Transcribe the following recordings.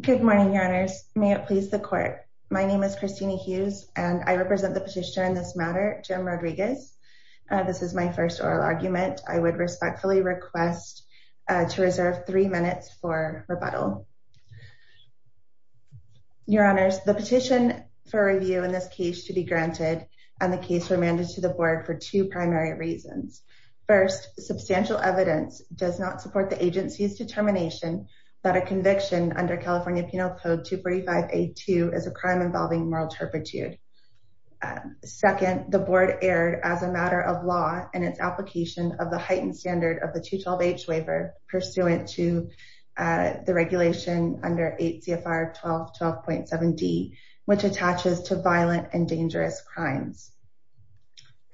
Good morning, Your Honors. May it please the Court. My name is Christina Hughes, and I represent the petitioner in this matter, Jim Rodriguez. This is my first oral argument. I would respectfully request to reserve three minutes for rebuttal. Your Honors, the petition for review in this case should be granted, and the case remanded to the Board for two primary reasons. First, substantial evidence does not support the agency's determination that a conviction under California Penal Code 245A2 is a crime involving moral turpitude. Second, the Board erred as a matter of law in its application of the heightened standard of the 212H waiver pursuant to the regulation under 8 CFR 1212.7d, which attaches to violent and dangerous crimes.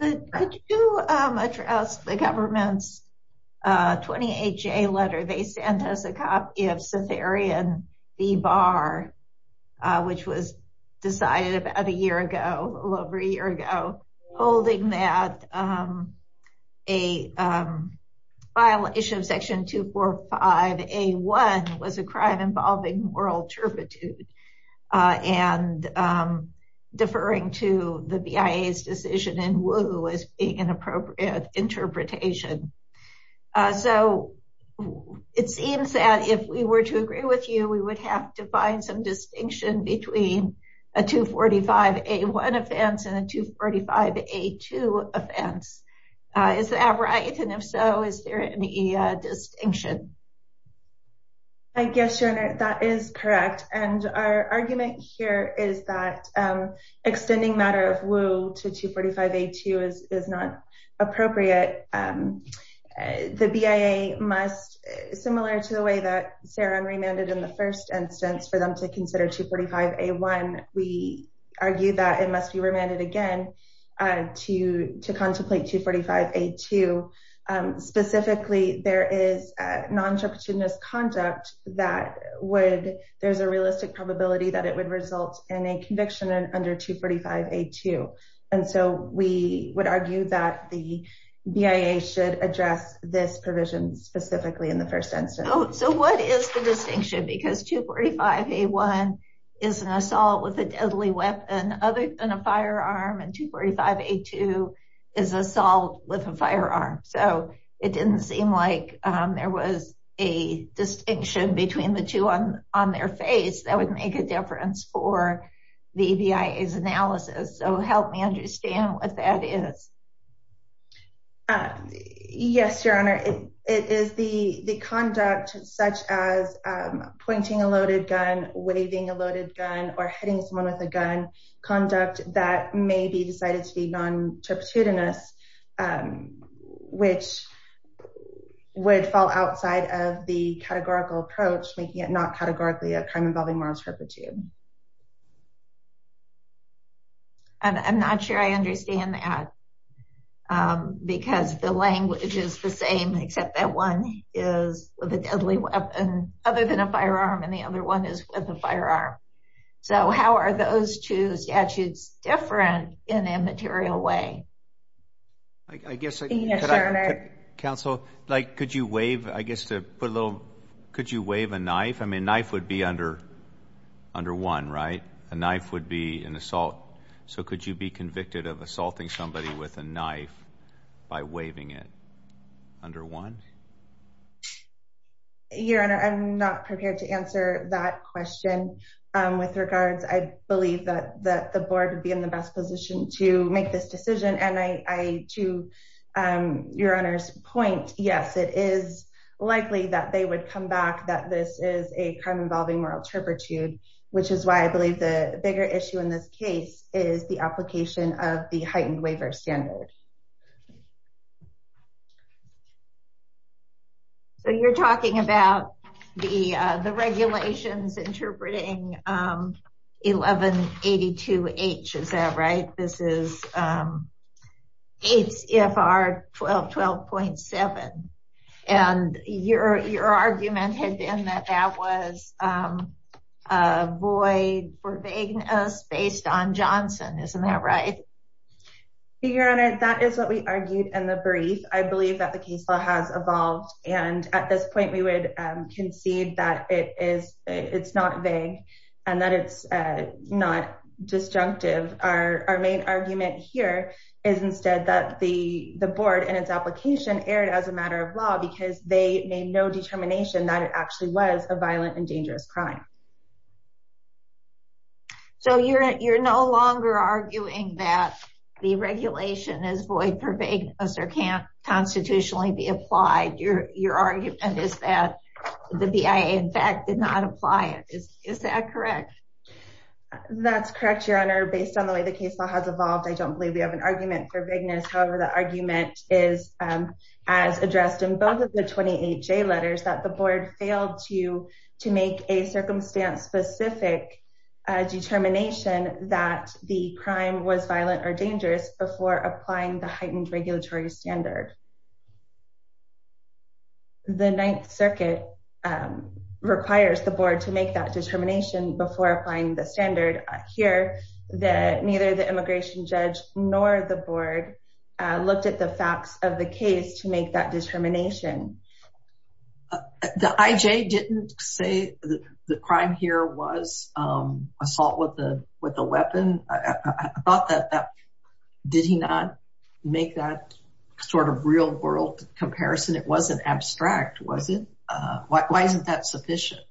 Could you address the government's 20HA letter they sent us a copy of Cetharian B-Bar, which was decided about a year ago, a little over a year ago, holding that a file issue of Section 245A1 was a crime involving moral turpitude, and deferring to the BIA's decision in Wu as being an appropriate interpretation. So, it seems that if we were to agree with you, we would have to find some distinction between a 245A1 offense and a 245A2 offense. Is that right? And if so, is there any distinction? I guess, Your Honor, that is correct. And our argument here is that extending matter of Wu to 245A2 is not appropriate. The BIA must, similar to the way that Sarah remanded in the first instance for them to consider 245A1, we argue that it must be remanded again to contemplate 245A2. Specifically, there is non-turpitudinous conduct that would, there's a realistic probability that it would result in a conviction under 245A2. And so, we would argue that the BIA should address this provision specifically in the first instance. So, what is the distinction? Because 245A1 is an assault with a deadly weapon other than a firearm. So, it didn't seem like there was a distinction between the two on their face. That would make a difference for the BIA's analysis. So, help me understand what that is. Yes, Your Honor. It is the conduct such as pointing a loaded gun, waving a loaded gun, or hitting someone with a gun conduct that may be decided to be non-turpitudinous which would fall outside of the categorical approach, making it not categorically a crime involving moral turpitude. I'm not sure I understand that because the language is the same except that one is with a deadly weapon other than a firearm and the other one is with a firearm. So, how are those two statutes different in a material way? Yes, Your Honor. Counsel, could you wave a knife? I mean, a knife would be under one, right? A knife would be an assault. So, could you be convicted of assaulting somebody with a knife by waving it under one? Your Honor, I'm not prepared to answer that question. With regards, I believe that the and I, to Your Honor's point, yes, it is likely that they would come back that this is a crime involving moral turpitude which is why I believe the bigger issue in this case is the application of the heightened waiver standard. So, you're talking about the regulations interpreting 1182H, is that right? This is ACFR 1212.7 and your argument had been that that was a void for vagueness based on Johnson, isn't that right? Your Honor, that is what we argued in the brief. I believe that the case law has evolved and at this point we would concede that it's not vague and that it's not disjunctive. Our main argument here is instead that the board and its application erred as a matter of law because they made no determination that it actually was a violent and dangerous crime. So, you're no longer arguing that the regulation is void for vagueness. Is that correct? That's correct, Your Honor. Based on the way the case law has evolved, I don't believe we have an argument for vagueness. However, the argument is as addressed in both of the 28 J letters that the board failed to make a circumstance-specific determination that the crime was violent or dangerous before applying the heightened regulatory standard. The Ninth Circuit requires the board to make that determination before applying the standard. Here, neither the immigration judge nor the board looked at the facts of the case to make that determination. The IJ didn't say that the crime here was assault with a weapon. I thought that did he not make that sort of real-world comparison? It wasn't abstract, was it? Why isn't that sufficient?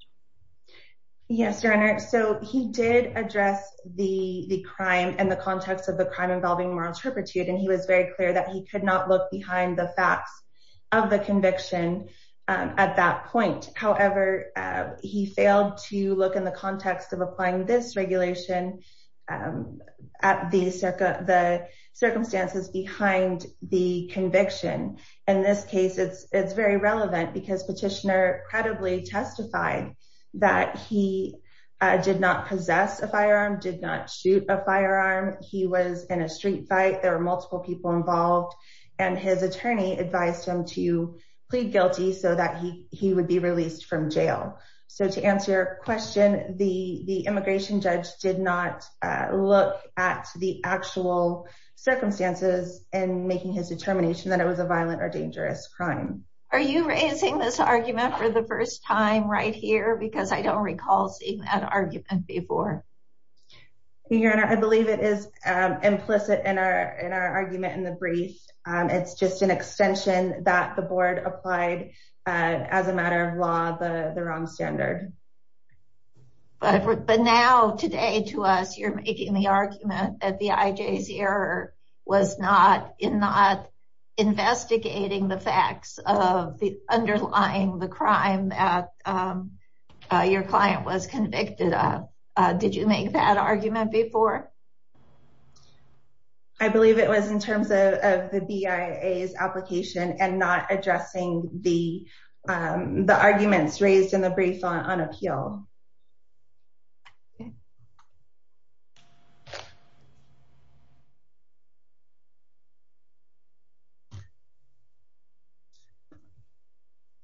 Yes, Your Honor. So, he did address the crime and the context of the crime involving moral turpitude, and he was very clear that he could not look behind the facts of the conviction at that point. However, he failed to look in the context of applying this regulation at the circumstances behind the conviction. In this case, it's very relevant because Petitioner credibly testified that he did not possess a firearm, did not shoot a firearm. He was in a street fight. There were multiple people involved, and his attorney advised him to plead guilty so that he would be released from jail. So, to answer your question, the immigration judge did not look at the actual circumstances in making his determination that it was a violent or dangerous crime. Are you raising this argument for the first time right here? Because I don't recall seeing that argument before. Your Honor, I believe it is implicit in our argument in the brief. It's just an extension that the board applied as a matter of law, the ROM standard. But now, today, to us, you're making the argument that the IJC error was not investigating the facts of the underlying crime that your client was convicted of. Did you make that argument before? I believe it was in terms of the BIA's application and not addressing the arguments raised in the brief on appeal.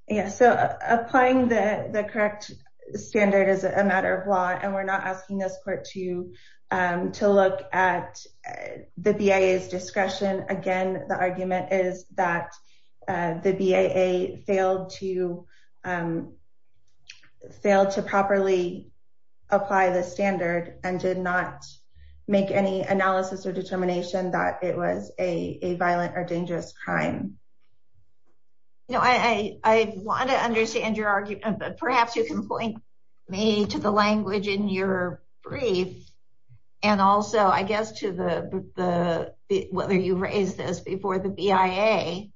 Yes. So, applying the correct standard is a matter of law, and we're not asking this court to fail to properly apply the standard and did not make any analysis or determination that it was a violent or dangerous crime. I want to understand your argument, but perhaps you can point me to the language in your brief and also, I guess, to whether you raised this before the BIA,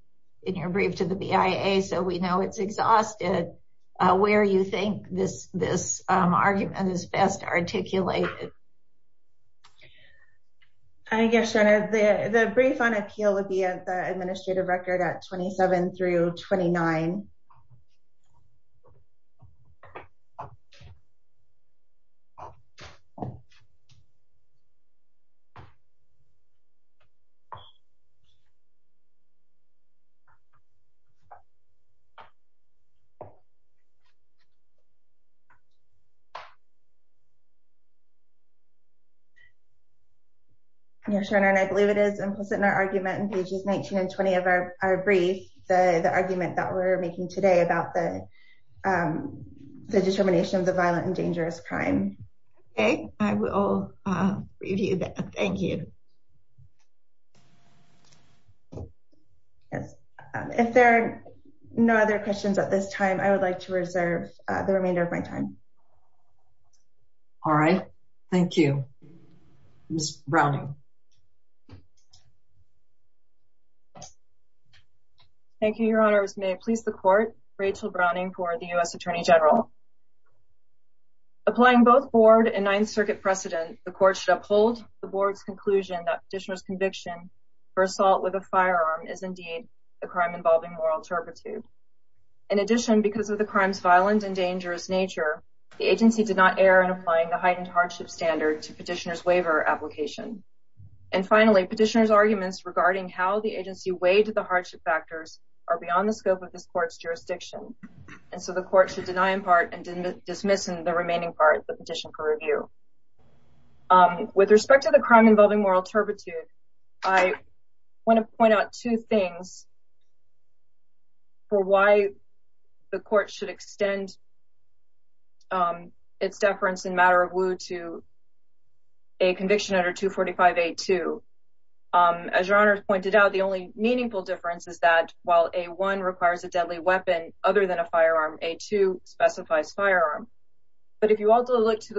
in your brief to the BIA, so we know it's exhausted, where you think this argument is best articulated. I guess, Your Honor, the brief on appeal would be at the administrative record at 27 through 29. Your Honor, I believe it is implicit in our argument in pages 19 and 20 of our brief, the argument that we're making today about the determination of the violent and dangerous crime. Okay. I will review that. Thank you. If there are no other questions at this time, I would like to reserve the remainder of my time. All right. Thank you. Ms. Browning. Thank you, Your Honor. May it please the court, Rachel Browning for the U.S. Attorney General. Applying both board and Ninth Circuit precedent, the court should uphold the board's conclusion that petitioner's conviction for assault with a firearm is indeed a crime involving moral turpitude. In addition, because of the crime's violent and dangerous nature, the agency did not err in applying the heightened hardship standard to petitioner's waiver application. And finally, petitioner's arguments regarding how the agency weighed the hardship factors are beyond the scope of this court's jurisdiction, and so the court should deny in part and dismiss in the remaining part the petition for review. With respect to the crime involving moral turpitude, I want to point out two things for why the court should extend its deference in matter of woe to a conviction under 245A2. As Your Honor has pointed out, the only meaningful difference is that while A1 requires a deadly weapon other than a firearm, A2 specifies firearm. But if you also look to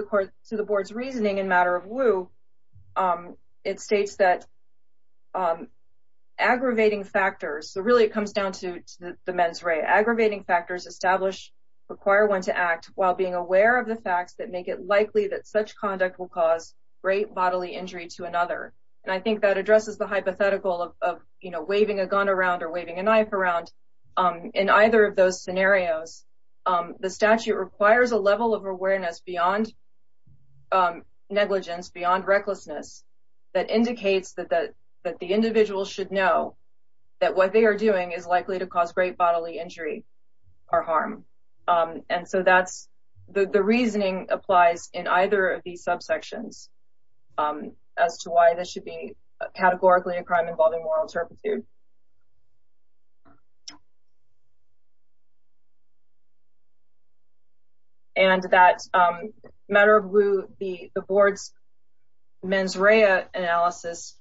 the board's reasoning in matter of woe, it states that aggravating factors, so really it comes down to the men's ray, aggravating factors establish, require one to act while being aware of the facts that make it likely that such conduct will cause great bodily injury to another. And I think that addresses the hypothetical of, you know, waving a gun around or waving a knife around. In either of those scenarios, the statute requires a level of awareness beyond negligence, beyond recklessness, that indicates that the individual should know that what they are doing is likely to cause great bodily injury or harm. And so that's, the reasoning applies in either of these subsections as to why this should be categorically a crime involving moral turpitude. And that matter of woe, the board's men's ray analysis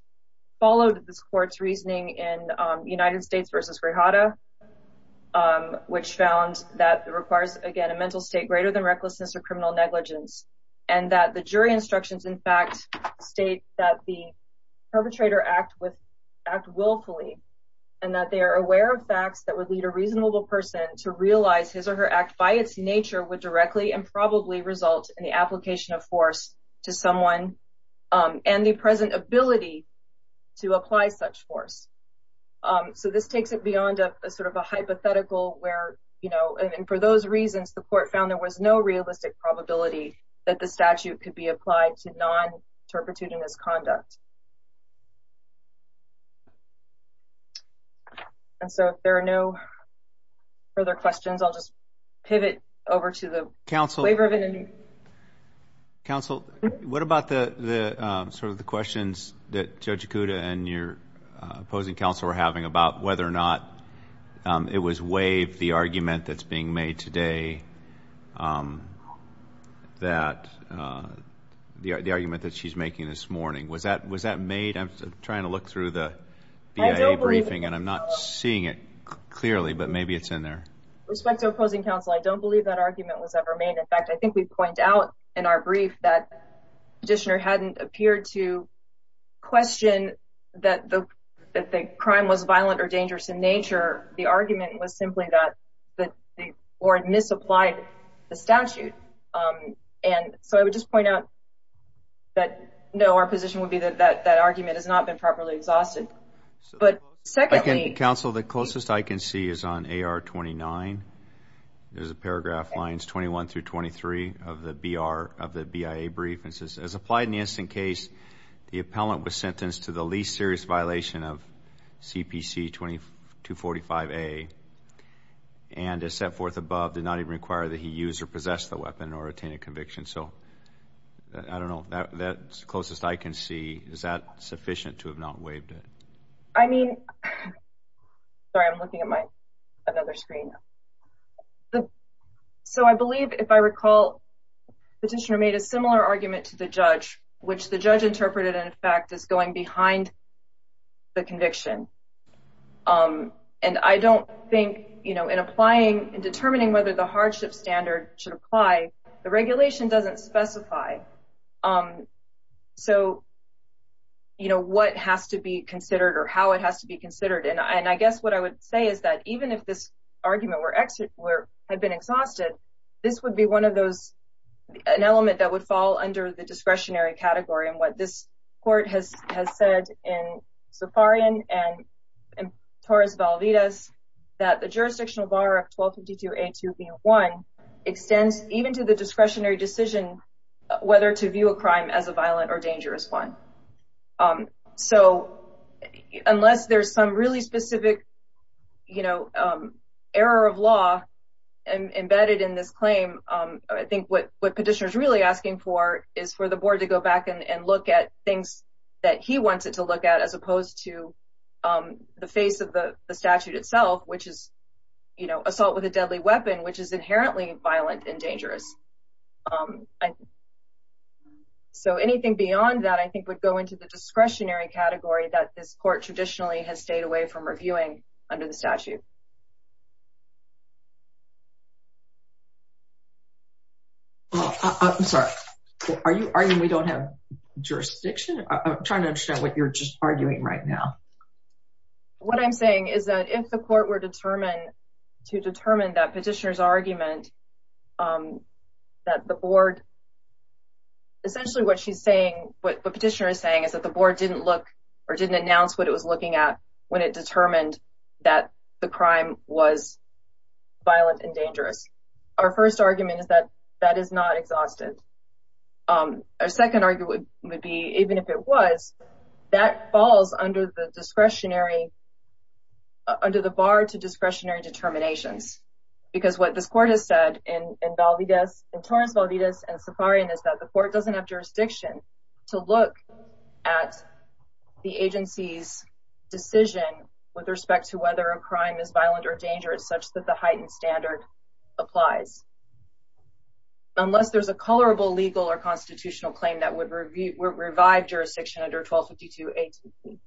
followed this court's reasoning in United States versus Grijalva, which found that it requires, again, a mental state greater than recklessness or criminal negligence. And that the jury instructions, in fact, state that the perpetrator act willfully and that they are aware of facts that would lead a reasonable person to realize his or her act by its nature would directly and probably result in the application of force to someone and the present ability to apply such force. So, this takes it beyond a sort of a hypothetical where, you know, and for those reasons, the court found there was no realistic probability that the statute could be applied to non-turpitude in this conduct. And so, if there are no further questions, I'll just pivot over to the waiver of indemnity. Counsel, what about the sort of the questions that Judge Okuda and your opposing counsel were having about whether or not it was waived, the argument that's being made today, um, that, uh, the argument that she's making this morning? Was that, was that made? I'm trying to look through the BIA briefing and I'm not seeing it clearly, but maybe it's in there. Respect to opposing counsel, I don't believe that argument was ever made. In fact, I think we've pointed out in our brief that the petitioner hadn't appeared to question that the, that the crime was violent or dangerous in nature. The argument was simply that, that the court misapplied the statute. Um, and so, I would just point out that, no, our position would be that, that, that argument has not been properly exhausted. But secondly, counsel, the closest I can see is on AR 29. There's a paragraph lines 21 through 23 of the BR, of the BIA brief. It says, as applied in the instant case, the appellant was sentenced to the least serious violation of CPC 2245A, and as set forth above, did not even require that he use or possess the weapon or attain a conviction. So, I don't know, that's closest I can see. Is that sufficient to have not waived it? I mean, sorry, I'm looking at my, another screen. So, I believe, if I recall, the petitioner made a similar argument to the judge, which the judge interpreted, in fact, as going behind the conviction. Um, and I don't think, you know, in applying and determining whether the hardship standard should apply, the regulation doesn't specify, um, so, you know, what has to be considered or how it has to be considered. And I guess what I would say is that, even if this argument were, had been exhausted, this would be one of those, an element that would fall under the discretionary category, and what this court has said in Safarian and Torres-Valvidas, that the jurisdictional bar of 1252A2B1 extends even to the discretionary decision whether to view a crime as a violent or dangerous one. So, unless there's some really specific, you know, error of law embedded in this claim, I think what petitioner's really asking for is for the board to go back and look at things that he wants it to look at as opposed to the face of the statute itself, which is, you know, assault with a deadly weapon, which is inherently violent and dangerous. Um, so anything beyond that, I think, would go into the discretionary category that this court traditionally has stayed away from reviewing under the statute. Oh, I'm sorry. Are you arguing we don't have jurisdiction? I'm trying to understand what you're just arguing right now. What I'm saying is that if the court were determined to determine that petitioner's argument, um, that the board, essentially what she's saying, what the petitioner is saying is that the board didn't look or didn't announce what it was looking at when it determined that the crime was violent and dangerous. Our first argument is that that is not exhausted. Our second argument would be, even if it was, that falls under the discretionary, uh, under the bar to discretionary determinations. Because what this court has said in, in Valdez, in Torrance Valdez and Safarian is that the court doesn't have jurisdiction to look at the agency's decision with respect to whether a crime is violent or dangerous, such that the heightened standard applies. Unless there's a colorable legal or constitutional claim that would review, would revive jurisdiction under 1252 A2C.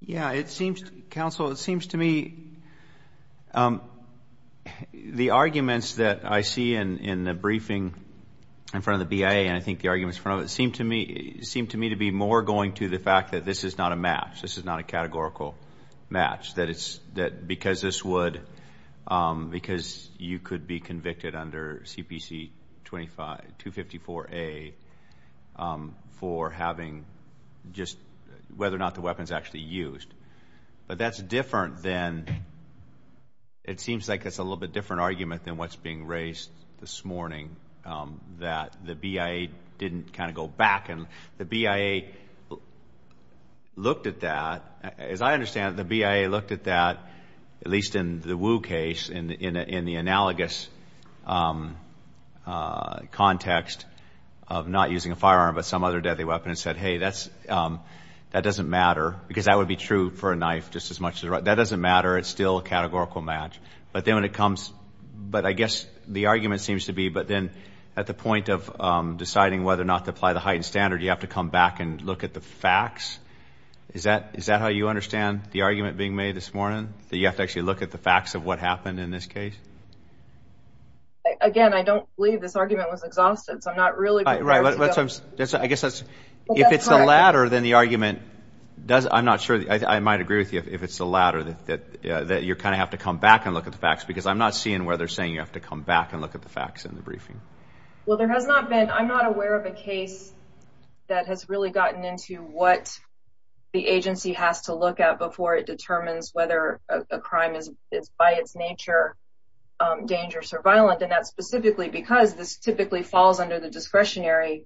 Yeah, it seems, counsel, it seems to me, um, the arguments that I see in, in the briefing in front of the BA, and I think the arguments in front of it, seem to me, seem to me to be more going to the fact that this is not a match. This is not a categorical match. That it's, that because this would, um, because you could be convicted under CPC 25, 254 A, um, for having just whether or not the weapon's actually used. But that's different than, it seems like that's a little bit different argument than what's being raised this morning, um, that the BIA didn't kind of back and the BIA looked at that. As I understand it, the BIA looked at that, at least in the Wu case, in, in, in the analogous, um, uh, context of not using a firearm, but some other deadly weapon and said, hey, that's, um, that doesn't matter because that would be true for a knife just as much as, that doesn't matter. It's still a categorical match. But then when it comes, but I guess the argument seems to be, but then at the point of, um, applying the heightened standard, you have to come back and look at the facts. Is that, is that how you understand the argument being made this morning? That you have to actually look at the facts of what happened in this case? Again, I don't believe this argument was exhaustive, so I'm not really. Right. I guess that's, if it's the latter, then the argument does, I'm not sure. I might agree with you if it's the latter, that, that, uh, that you're kind of have to come back and look at the facts because I'm not seeing where they're saying you have to come back and look at the facts in the briefing. Well, there has not been, I'm not aware of a case that has really gotten into what the agency has to look at before it determines whether a crime is by its nature dangerous or violent. And that's specifically because this typically falls under the discretionary,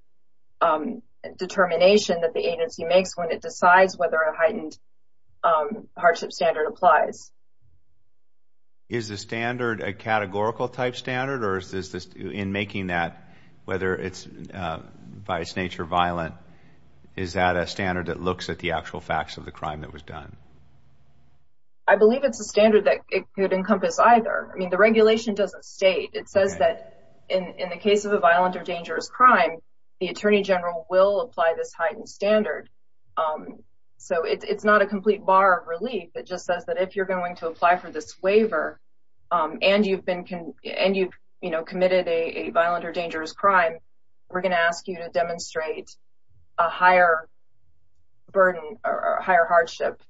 um, determination that the agency makes when it decides whether a heightened, um, hardship standard applies. Is the standard a categorical type standard, or is this, in making that, whether it's, uh, by its nature violent, is that a standard that looks at the actual facts of the crime that was done? I believe it's a standard that it could encompass either. I mean, the regulation doesn't state. It says that in, in the case of a violent or dangerous crime, the attorney general will apply this heightened standard. Um, so it's not a complete bar of relief. It just says that if you're going to apply for this waiver, um, and you've been, and you've, you know, committed a violent or dangerous crime, we're going to ask you to demonstrate a higher burden or a higher hardship,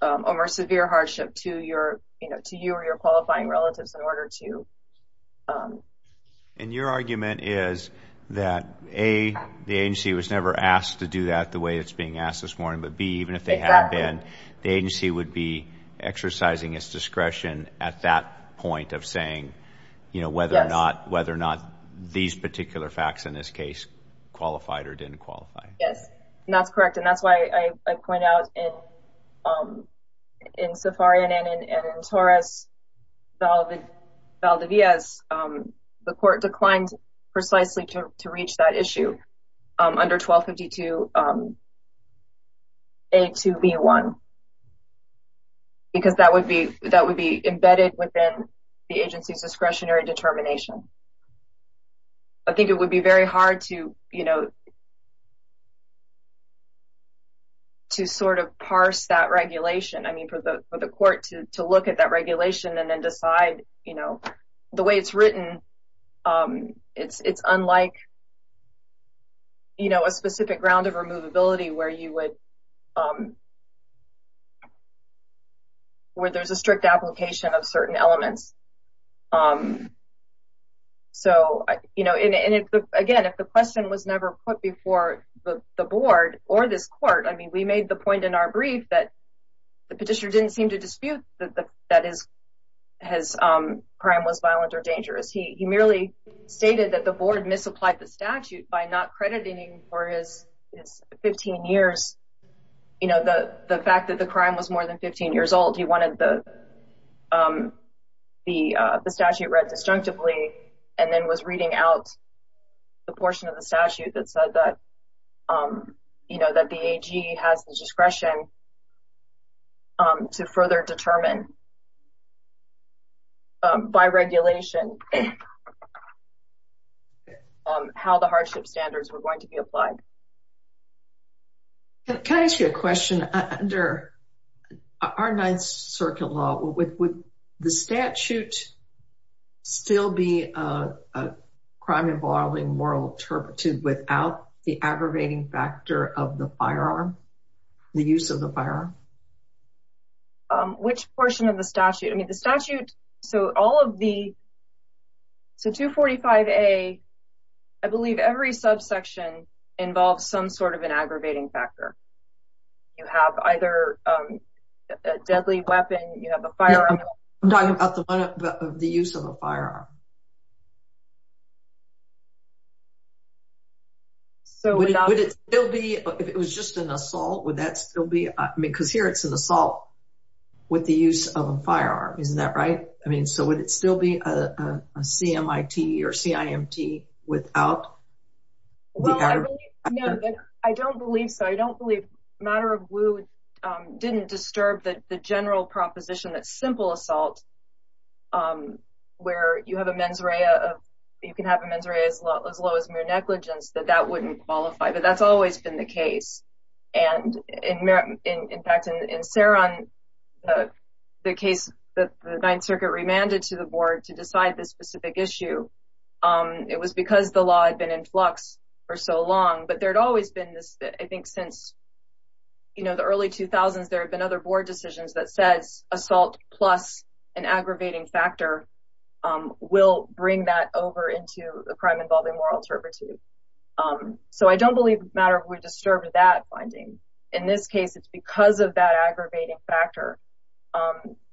um, or severe hardship to your, you know, to you or your qualifying relatives in order to, um. And your argument is that A, the agency was never asked to do that the way it's being asked this morning, but B, even if they have been, the agency would be exercising its discretion at that point of saying, you know, whether or not, whether or not these particular facts in this case qualified or didn't qualify. Yes, that's correct. And that's why I point out in, um, in Safarian and in Torres Valdez, um, the court declined precisely to, to reach that issue, um, under 1252, um, A2B1 because that would be, that would be embedded within the agency's discretionary determination. I think it would be very hard to, you know, to sort of parse that regulation. I mean, for the, for the court to, to look at that regulation and then decide, you know, the way it's written, um, it's, it's unlike, you know, a specific ground of removability where you would, um, where there's a strict application of certain elements. Um, so, you know, and again, if the question was never put before the board or this court, I mean, we made the point in our brief that the petitioner didn't seem to dispute that the, that his, his, um, crime was violent or dangerous. He, he merely stated that the board misapplied the statute by not crediting for his 15 years, you know, the, the fact that the crime was more than 15 years old. He wanted the, um, the, uh, the statute read disjunctively and then was reading out the portion of the to further determine, um, by regulation, um, how the hardship standards were going to be applied. Can I ask you a question? Under our Ninth Circuit law, would the statute still be a crime involving moral turpitude without the aggravating factor of the firearm, the use of the firearm? Um, which portion of the statute? I mean, the statute, so all of the, so 245A, I believe every subsection involves some sort of an aggravating factor. You have either, um, a deadly weapon, you have a firearm. I'm talking about the one, the use of a firearm. So would it still be, if it was just an assault, would that still be, I mean, because here it's an assault with the use of a firearm, isn't that right? I mean, so would it still be a CMIT or CIMT without? Well, I don't believe so. I don't believe Matter of Woo didn't disturb the general proposition that simple assault, where you have a mens rea, you can have a mens rea as low as mere negligence, that that wouldn't qualify. But that's always been the case. And in fact, in Saron, the case that the Ninth Circuit remanded to the board to decide this specific issue, it was because the law had been in flux for so long. But there'd always been this, I think since, you know, the early 2000s, there have been other board decisions that says assault plus an aggravating factor will bring that over into a crime involving moral turpitude. So I don't believe Matter of Woo disturbed that finding. In this case, it's because of that aggravating factor,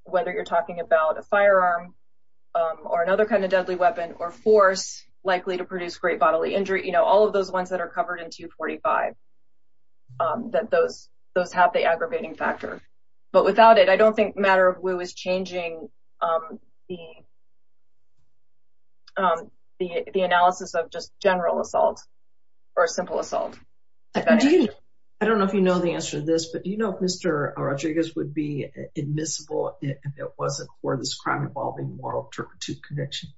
whether you're talking about a firearm or another kind of deadly weapon or force likely to produce great bodily injury, you know, all of those ones that are covered in 245. That those those have the aggravating factor. But without it, I don't think Matter of Woo is changing the the analysis of just general assault, or simple assault. I don't know if you know the answer to this. But you know, Mr. Rodriguez would be admissible if it wasn't for this crime involving moral turpitude conviction.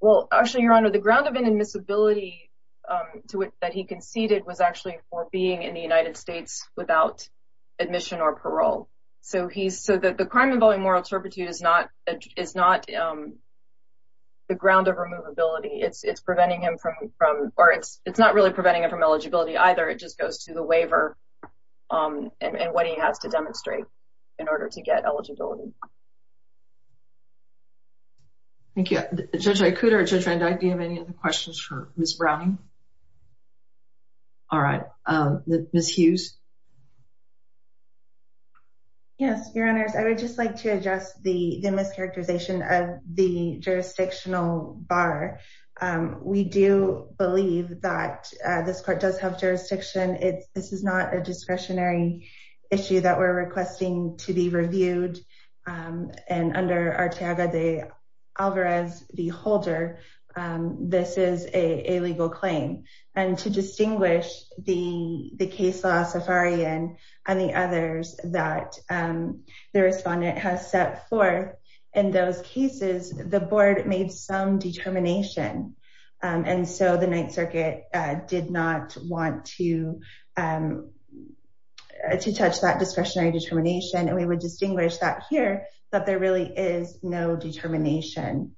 Well, actually, Your Honor, the ground of inadmissibility to it that he conceded was actually for being in the United States without admission or parole. So he's so that the crime involving moral turpitude is not is not the ground of removability. It's preventing him from from or it's it's not really preventing him from eligibility either. It just goes to the waiver and what he has to demonstrate in order to get eligibility. Thank you, Judge Ikuda. Judge Van Dyke, do you have any other questions for Ms. Browning? All right, Ms. Hughes. Yes, Your Honors, I would just like to address the mischaracterization of the jurisdictional bar. We do believe that this court does have jurisdiction. It's this is not a discretionary issue that we're requesting to be reviewed. And under our tag, the Alvarez, the holder, this is a legal claim. And to distinguish the case law, Safarian and the others that the respondent has set forth in those cases, the board made some determination. And so the Ninth Circuit did not want to touch that discretionary determination. And we would not want to touch that discretionary determination.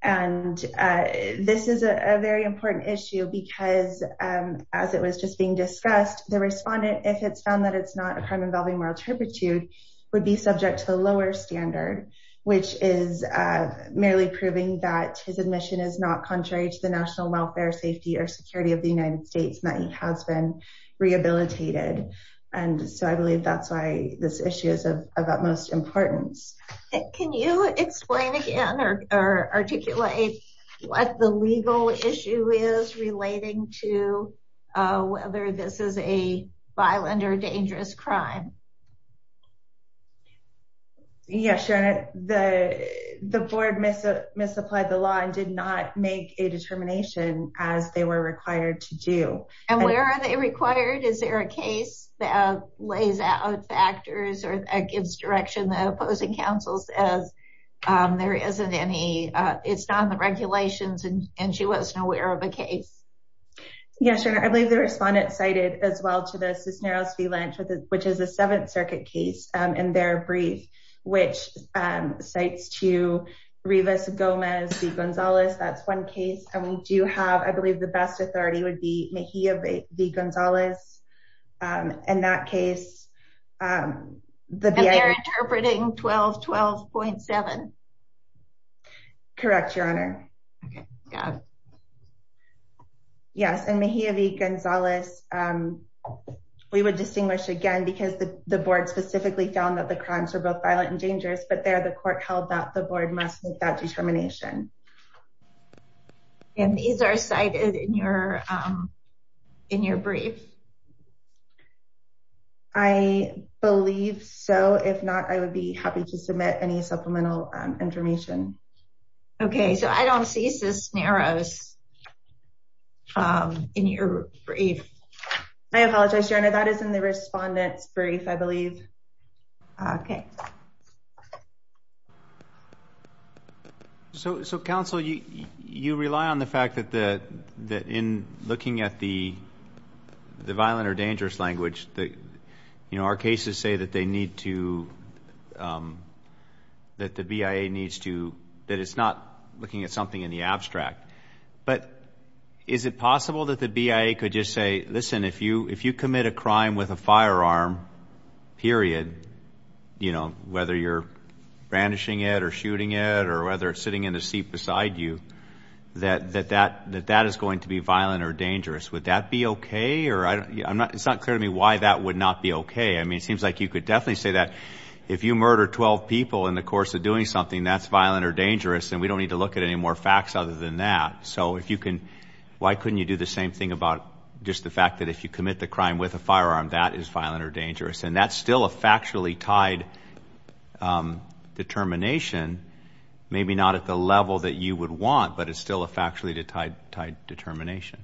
And this is a very important issue because as it was just being discussed, the respondent, if it's found that it's not a crime involving moral turpitude, would be subject to the lower standard, which is merely proving that his admission is not contrary to the national welfare, safety or security of the United States, has been rehabilitated. And so I believe that's why this issue is of utmost importance. Can you explain again or articulate what the legal issue is relating to whether this is a violent or dangerous crime? Yes, Your Honor, the board misapplied the law and did not make a determination as they were to do. And where are they required? Is there a case that lays out factors or gives direction that opposing counsel says there isn't any, it's not in the regulations and she wasn't aware of a case? Yes, Your Honor, I believe the respondent cited as well to the Cisneros v. Lynch, which is a Seventh Circuit case in their brief, which cites to Rivas Gomez v. Gonzalez. That's one case and we do have, I believe the best authority would be Mejia v. Gonzalez. In that case, they're interpreting 1212.7. Correct, Your Honor. Okay, yeah. Yes, and Mejia v. Gonzalez, we would distinguish again because the board specifically found that the crimes were both violent and dangerous, but there the court held that the board must make that determination. And these are cited in your brief? I believe so. If not, I would be happy to submit any supplemental information. Okay, so I don't see Cisneros in your brief. I apologize, Your Honor, that is in the respondent's brief, I believe. Okay. So counsel, you rely on the fact that in looking at the violent or dangerous language, our cases say that the BIA needs to, that it's not looking at something in the abstract. But is it possible that the BIA could just say, listen, if you commit a crime with a firearm, period, you know, whether you're brandishing it or shooting it or whether it's sitting in a seat beside you, that that is going to be violent or dangerous. Would that be okay? It's not clear to me why that would not be okay. I mean, it seems like you could definitely say that if you murder 12 people in the course of doing something, that's violent or dangerous, and we don't need to look at any more facts other than that. So if you can, why couldn't you do the same thing about just the fact that if you commit the crime with a firearm, that is violent or dangerous? And that's still a factually tied determination, maybe not at the level that you would want, but it's still a factually tied determination.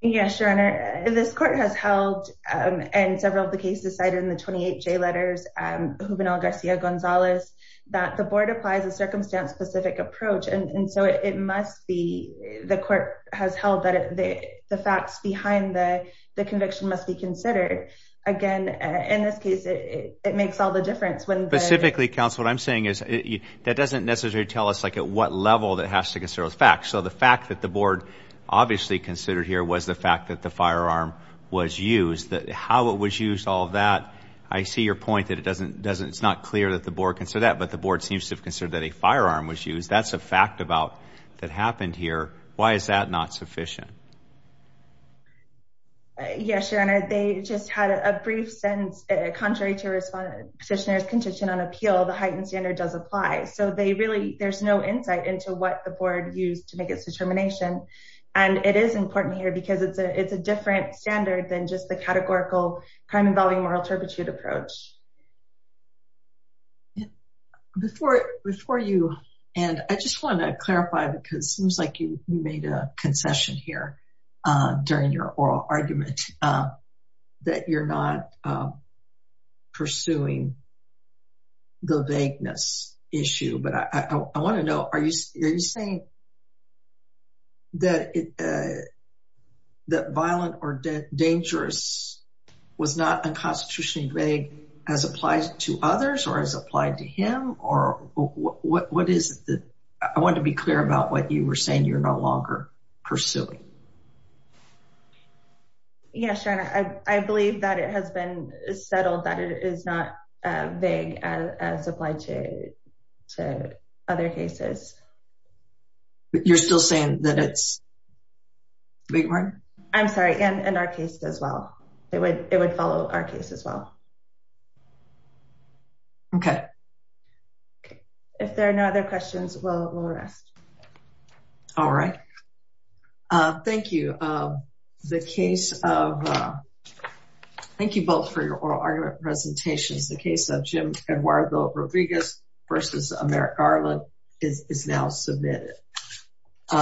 Yes, Your Honor. This court has held, and several of the cases cited in the 28J letters, Juvenal Garcia Gonzalez, that the board applies a circumstance-specific approach. And so it must be, the court has held that the facts behind the conviction must be considered. Again, in this case, it makes all the difference. Specifically, counsel, what I'm saying is that doesn't necessarily tell us like at what level that has to consider those facts. So the fact that the board obviously considered here was the fact that the firearm was used, that how it was used, all of that, I see your point that it doesn't, it's not clear that the board considered that, but the board seems to have considered that a firearm was used. That's a fact about that happened here. Why is that not sufficient? Yes, Your Honor. They just had a brief sentence, contrary to the petitioner's condition on appeal, the heightened standard does apply. So they really, there's no insight into what the board used to make its determination. And it is important here because it's a different standard than just the categorical crime involving moral turpitude approach. Before you end, I just want to clarify, because it seems like you made a concession here during your oral argument, that you're not pursuing the vagueness issue. But I want to know, are you saying that violent or dangerous was not unconstitutionally vague as applied to others or as applied to him? Or what is the, I want to be clear about what you were saying you're no longer pursuing. Yes, Your Honor, I believe that it has been settled that it is not vague as applied to other cases. But you're still saying that it's vague? I'm sorry, and in our case as well, it would it would follow our case as well. Okay. If there are no other questions, we'll rest. All right. Thank you. The case of thank you both for your oral argument presentations, the case of Jim Eduardo Rodriguez versus Merrick Garland is now submitted.